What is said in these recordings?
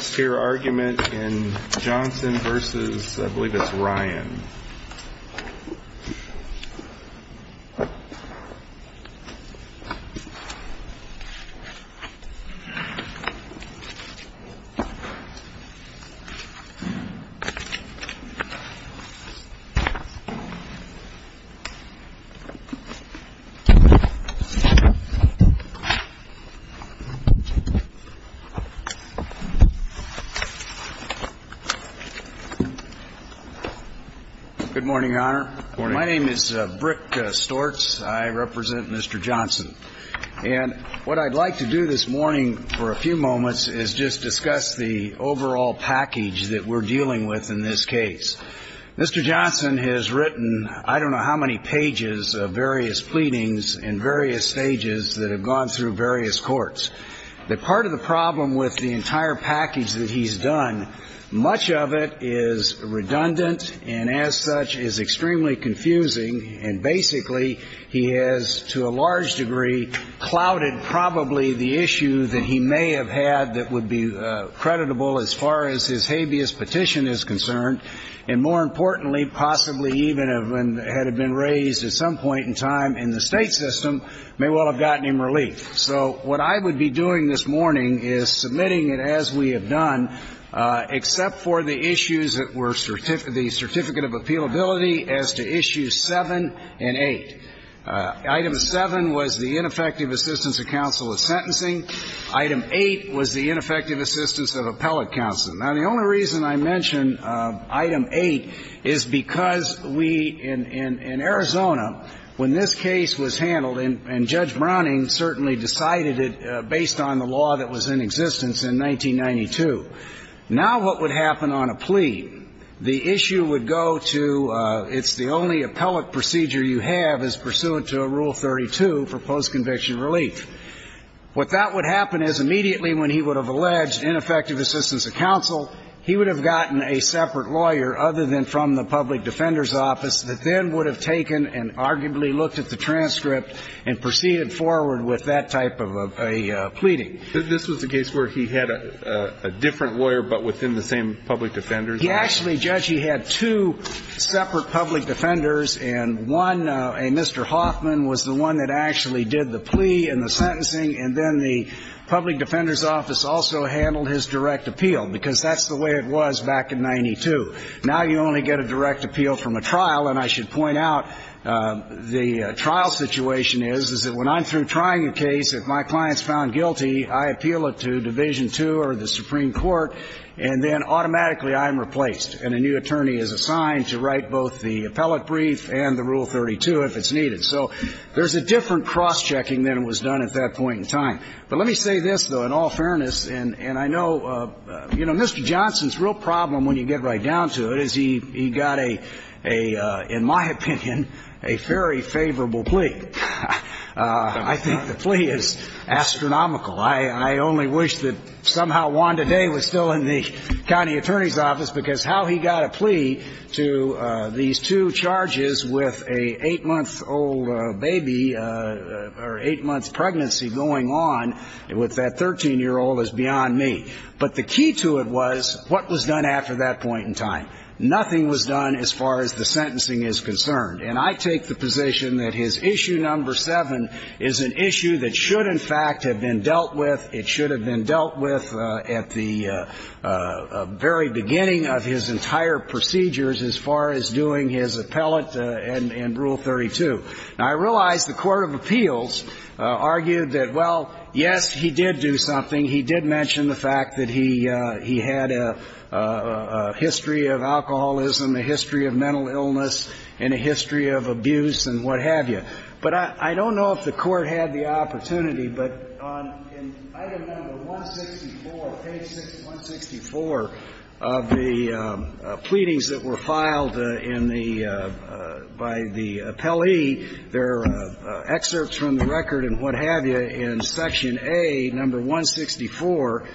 Stewart's argument in Johnson v. I believe it's Ryan Good morning, Your Honor. My name is Brick Stortz. I represent Mr. Johnson. And what I'd like to do this morning for a few moments is just discuss the overall package that we're dealing with in this case. Mr. Johnson has written I don't know how many pages of various pleadings and various stages that have gone through various courts. The part of the problem with the entire package that he's done, much of it is redundant and as such is extremely confusing. And basically, he has to a large degree clouded probably the issue that he may have had that would be creditable as far as his habeas petition is concerned. And more importantly, possibly even had it been raised at some point in time in the state system, may well have gotten him relief. So what I would be doing this morning is submitting it as we have done, except for the issues that were the Certificate of Appealability as to Issues 7 and 8. Item 7 was the ineffective assistance of counsel of sentencing. Item 8 was the ineffective assistance of appellate counsel. Now, the only reason I mention Item 8 is because we in Arizona, when this case was handled, and Judge Browning certainly did not want to do it, but I think it's important to note that he decided it based on the law that was in existence in 1992. Now what would happen on a plea, the issue would go to it's the only appellate procedure you have as pursuant to Rule 32 for post-conviction relief. What that would happen is immediately when he would have alleged ineffective assistance of counsel, he would have gotten a separate lawyer other than from the public defender's office that then would have taken and arguably looked at the transcript and proceeded forward with that type of appeal. That's the type of a pleading. This was the case where he had a different lawyer but within the same public defender's office? He actually, Judge, he had two separate public defenders, and one, a Mr. Hoffman, was the one that actually did the plea and the sentencing, and then the public defender's office also handled his direct appeal, because that's the way it was back in 92. Now you only get a direct appeal from a trial, and I should point out the trial situation is, is that when I'm through trying a case, if my client's found guilty, I appeal it to Division II or the Supreme Court, and then automatically I'm replaced, and a new attorney is assigned to write both the appellate brief and the Rule 32 if it's needed. So there's a different cross-checking than was done at that point in time. But let me say this, though, in all fairness, and I know, you know, Mr. Johnson's real problem when you get right down to it is he got a, in my opinion, a very favorable plea. I think the plea is astronomical. I only wish that somehow Wanda Day was still in the county attorney's office, because how he got a plea to these two charges with an eight-month-old baby or eight-months' pregnancy going on with that 13-year-old is beyond me. But the key to it was what was done after that point in time. Nothing was done as far as the sentencing is concerned. And I take the position that his Issue No. 7 is an issue that should in fact have been dealt with. It should have been dealt with at the very beginning of his entire procedures as far as doing his appellate and Rule 32. Now, I realize the court of appeals argued that, well, yes, he did do something. He did mention the fact that he had a history of alcoholism, a history of mental illness, and a history of abuse and what have you. But I don't know if the Court had the opportunity, but on Item No. 164, page 164 of the pleadings that were filed in the by the appellee, there are excerpts from the record and what have you in Section A, No. 164.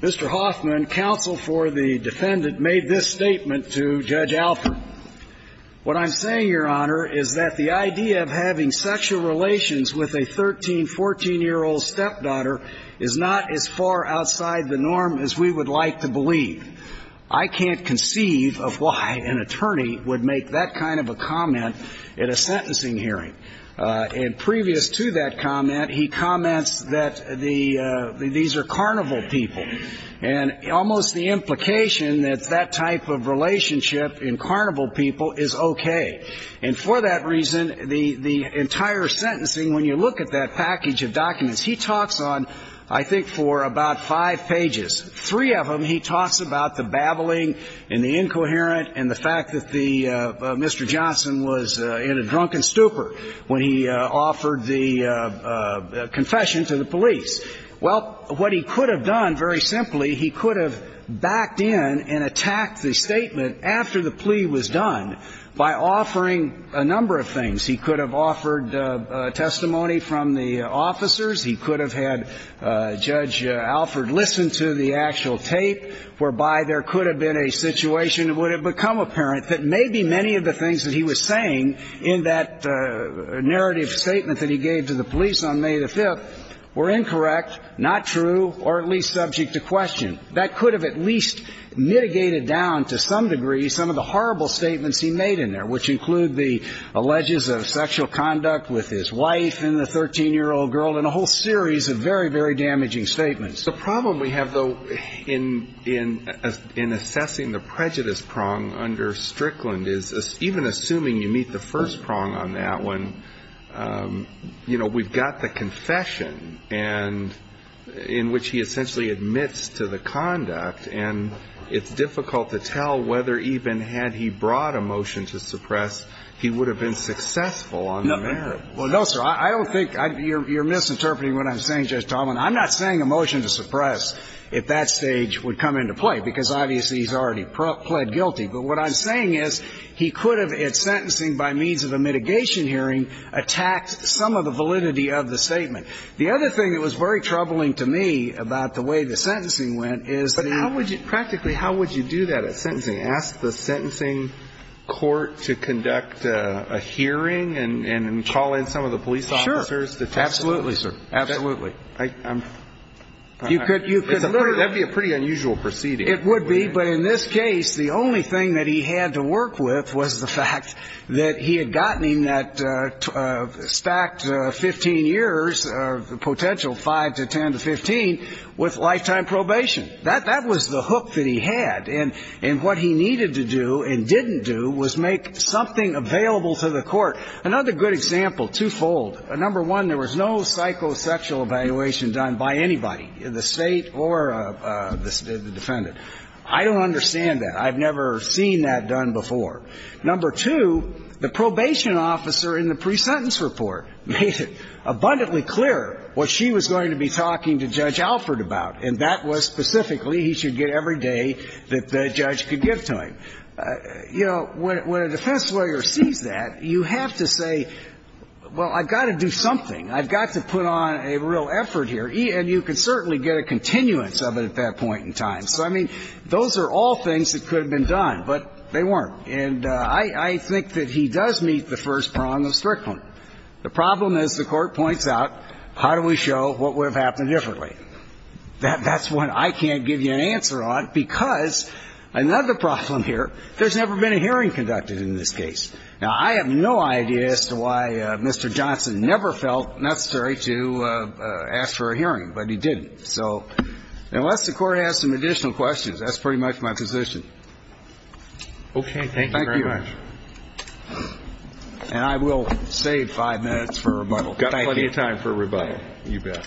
Mr. Hoffman, counsel for the defendant, made this statement to Judge Alford. What I'm saying, Your Honor, is that the idea of having sexual relations with a 13-, 14-year-old stepdaughter is not as far outside the norm as we would like to believe. I can't conceive of why an attorney would make that kind of a comment at a sentencing hearing. And previous to that comment, he comments that these are carnival people, and almost the implication that that type of relationship in carnival people is okay. And for that reason, the entire sentencing, when you look at that package of documents, he talks on, I think, for about five pages. Three of them, he talks about the babbling and the incoherent and the fact that Mr. Alford was drunk and stupor when he offered the confession to the police. Well, what he could have done, very simply, he could have backed in and attacked the statement after the plea was done by offering a number of things. He could have offered testimony from the officers. He could have had Judge Alford listen to the actual tape, whereby there could have been a situation that would have become apparent that maybe many of the things that he was saying in that narrative statement that he gave to the police on May the 5th were incorrect, not true, or at least subject to question. That could have at least mitigated down to some degree some of the horrible statements he made in there, which include the alleges of sexual conduct with his wife and the 13-year-old girl and a whole series of very, very damaging statements. The problem we have, though, in assessing the prejudice prong under Strickland is even assuming you meet the first prong on that one, you know, we've got the confession and in which he essentially admits to the conduct, and it's difficult to tell whether even had he brought a motion to suppress, he would have been successful on the merit. Well, no, sir. I don't think you're misinterpreting what I'm saying, Judge Tomlin. I'm not saying a motion to suppress at that stage would come into play, because obviously he's already pled guilty. But what I'm saying is he could have, at sentencing by means of a mitigation hearing, attacked some of the validity of the statement. The other thing that was very troubling to me about the way the sentencing went is the But how would you, practically, how would you do that at sentencing? Ask the sentencing court to conduct a hearing and call in some of the police officers to testify? Absolutely, sir. Absolutely. That would be a pretty unusual proceeding. It would be. But in this case, the only thing that he had to work with was the fact that he had gotten in that stacked 15 years, potential 5 to 10 to 15, with lifetime probation. That was the hook that he had. And what he needed to do and didn't do was make something available to the court. Another good example, twofold. Number one, there was no psychosexual evaluation done by anybody, the State or the defendant. I don't understand that. I've never seen that done before. Number two, the probation officer in the pre-sentence report made it abundantly clear what she was going to be talking to Judge Alford about, and that was specifically he should get every day that the judge could give to him. And, you know, when a defense lawyer sees that, you have to say, well, I've got to do something. I've got to put on a real effort here. And you can certainly get a continuance of it at that point in time. So, I mean, those are all things that could have been done, but they weren't. And I think that he does meet the first prong of Strickland. The problem is the Court points out, how do we show what would have happened differently? That's what I can't give you an answer on because another problem here, there's never been a hearing conducted in this case. Now, I have no idea as to why Mr. Johnson never felt necessary to ask for a hearing, but he didn't. So unless the Court has some additional questions, that's pretty much my position. Okay. Thank you very much. Thank you. And I will save five minutes for rebuttal. Got plenty of time for rebuttal. You bet. Thank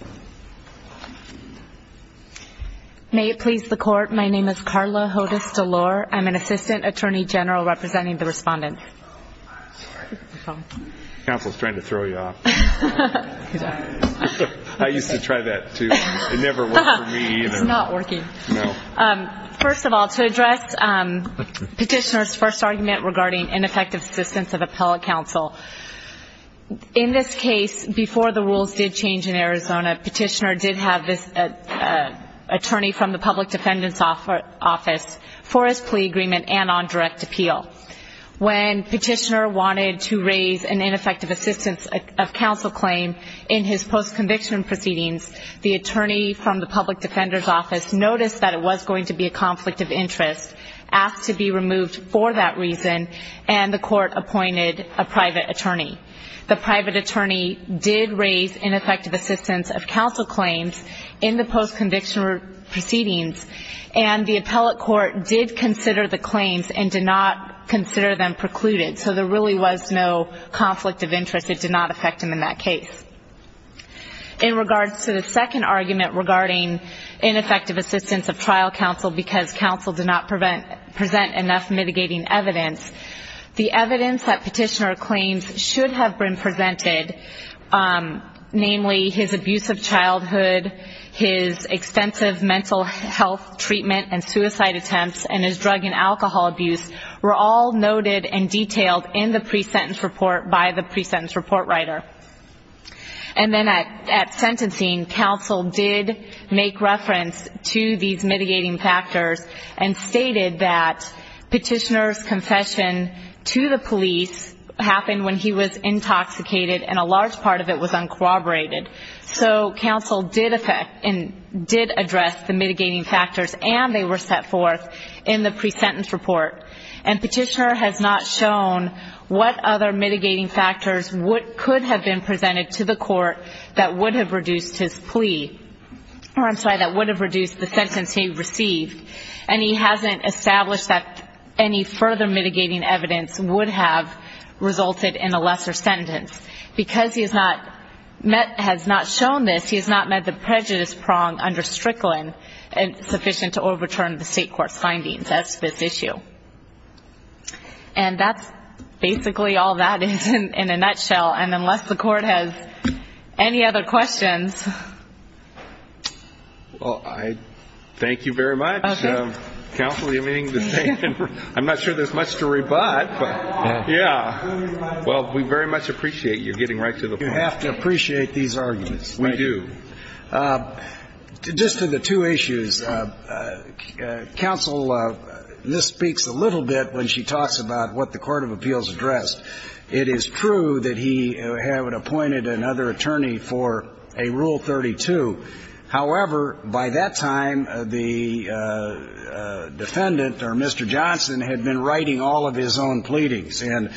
you. May it please the Court, my name is Carla Hodes-Delore. I'm an Assistant Attorney General representing the Respondent. Council is trying to throw you off. I used to try that, too. It never worked for me, either. It's not working. No. First of all, to address Petitioner's first argument regarding ineffective assistance of In this case, before the rules did change in Arizona, Petitioner did have this attorney from the Public Defendant's Office for his plea agreement and on direct appeal. When Petitioner wanted to raise an ineffective assistance of counsel claim in his post-conviction proceedings, the attorney from the Public Defender's Office noticed that it was going to be a conflict of interest, asked to be removed for that reason, and the Court appointed a private attorney. The private attorney did raise ineffective assistance of counsel claims in the post-conviction proceedings, and the appellate court did consider the claims and did not consider them precluded. So there really was no conflict of interest. It did not affect him in that case. In regards to the second argument regarding ineffective assistance of trial counsel because counsel did not present enough mitigating evidence, the evidence that Petitioner claims should have been presented, namely his abusive childhood, his extensive mental health treatment and suicide attempts, and his drug and alcohol abuse, were all noted and detailed in the pre-sentence report by the pre-sentence report writer. And then at sentencing, counsel did make reference to these mitigating factors and stated that Petitioner's confession to the police happened when he was intoxicated and a large part of it was uncorroborated. So counsel did address the mitigating factors and they were set forth in the pre-sentence report. And Petitioner has not shown what other mitigating factors could have been presented to the court that would have reduced his plea, or I'm sorry, that would have reduced the sentence he received. And he hasn't established that any further mitigating evidence would have resulted in a lesser sentence. Because he has not shown this, he has not met the prejudice prong under Strickland sufficient to overturn the presentation of this issue. And that's basically all that is in a nutshell. And unless the court has any other questions... Well, I thank you very much. Counsel, you're meaning to say, I'm not sure there's much to rebut, but, yeah. Well, we very much appreciate you getting right to the point. You have to appreciate these arguments. We do. Just to the two issues, counsel, this speaks a little bit when she talks about what the Court of Appeals addressed. It is true that he had appointed another attorney for a Rule 32. However, by that time, the defendant, or Mr. Johnson, had been writing all of his own pleadings. And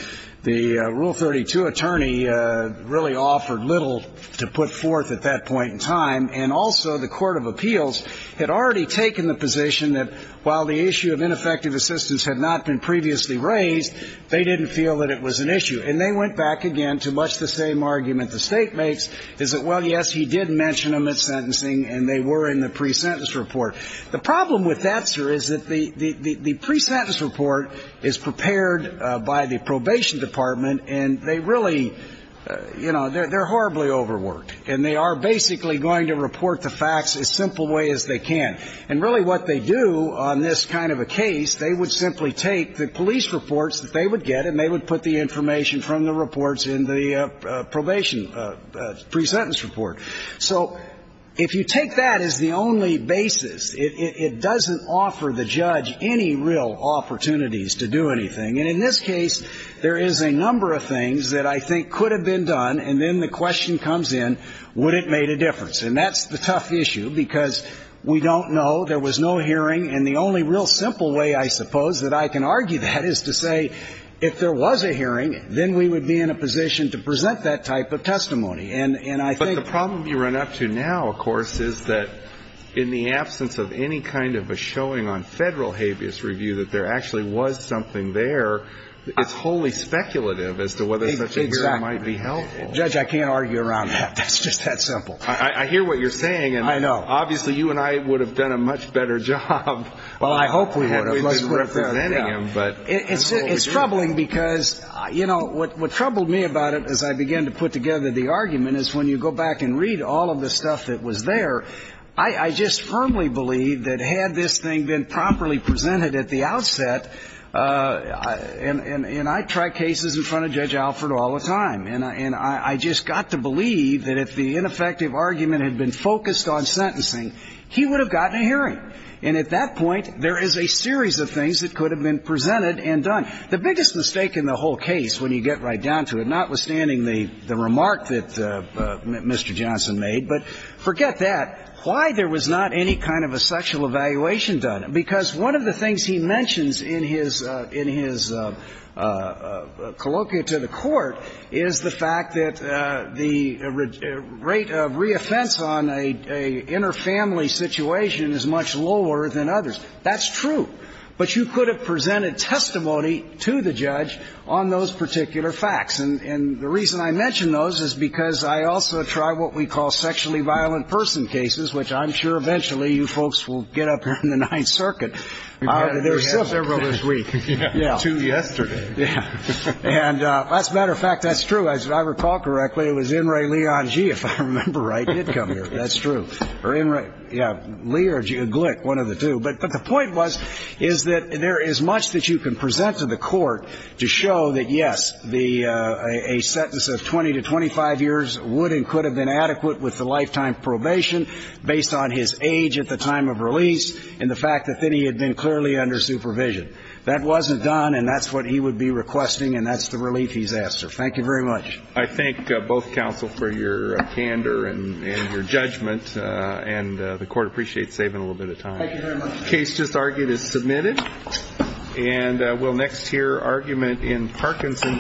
the Rule 32 attorney really offered little to put forth at that point in time. And also, the Court of Appeals had already taken the position that while the issue of ineffective assistance had not been previously raised, they didn't feel that it was an issue. And they went back again to much the same argument the State makes, is that, well, yes, he did mention them at sentencing, and they were in the pre-sentence report. The problem with that, sir, is that the pre-sentence report is prepared by the probation department, and they really, you know, they're horribly overworked. And they are basically going to report the facts as simple a way as they can. And really what they do on this kind of a case, they would simply take the police reports that they would get, and they would put the information from the reports in the probation pre-sentence report. So if you take that as the only basis, it doesn't offer the judge any real opportunities to do anything. And in this case, there is a number of things that I think could have been done, and then the question comes in, would it have made a difference? And that's the tough issue, because we don't know. There was no hearing. And the only real simple way, I suppose, that I can argue that is to say if there was a hearing, then we would be in a position to present that type of testimony. But the problem you run up to now, of course, is that in the absence of any kind of a showing on federal habeas review that there actually was something there, it's wholly speculative as to whether such a hearing might be helpful. Exactly. Judge, I can't argue around that. It's just that simple. I hear what you're saying. I know. Obviously, you and I would have done a much better job. Well, I hope we would have. It's troubling because, you know, what troubled me about it, as I began to put together the argument, is when you go back and read all of the stuff that was there, I just firmly believed that had this thing been properly presented at the outset, and I try cases in front of Judge Alford all the time, and I just got to believe that if the ineffective argument had been focused on sentencing, he would have gotten a hearing. And at that point, there is a series of things that could have been presented and done. The biggest mistake in the whole case, when you get right down to it, notwithstanding the remark that Mr. Johnson made, but forget that, why there was not any kind of a sexual evaluation done. Because one of the things he mentions in his colloquia to the Court is the fact that the rate of reoffense on an inner family situation is much lower than others. That's true. But you could have presented testimony to the judge on those particular facts. And the reason I mention those is because I also try what we call sexually violent person cases, which I'm sure eventually you folks will get up here in the Ninth Circuit. There were several this week. Two yesterday. Yeah. And as a matter of fact, that's true. As I recall correctly, it was In re Leon G, if I remember right. He did come here. That's true. Yeah. But the point was is that there is much that you can present to the Court to show that, yes, a sentence of 20 to 25 years would and could have been adequate with the lifetime probation based on his age at the time of release and the fact that then he had been clearly under supervision. That wasn't done, and that's what he would be requesting, and that's the relief he's asked for. Thank you very much. I thank both counsel for your candor and your judgment, and the Court appreciates saving a little bit of time. Thank you very much. The case just argued is submitted, and we'll next hear argument in Parkinson v.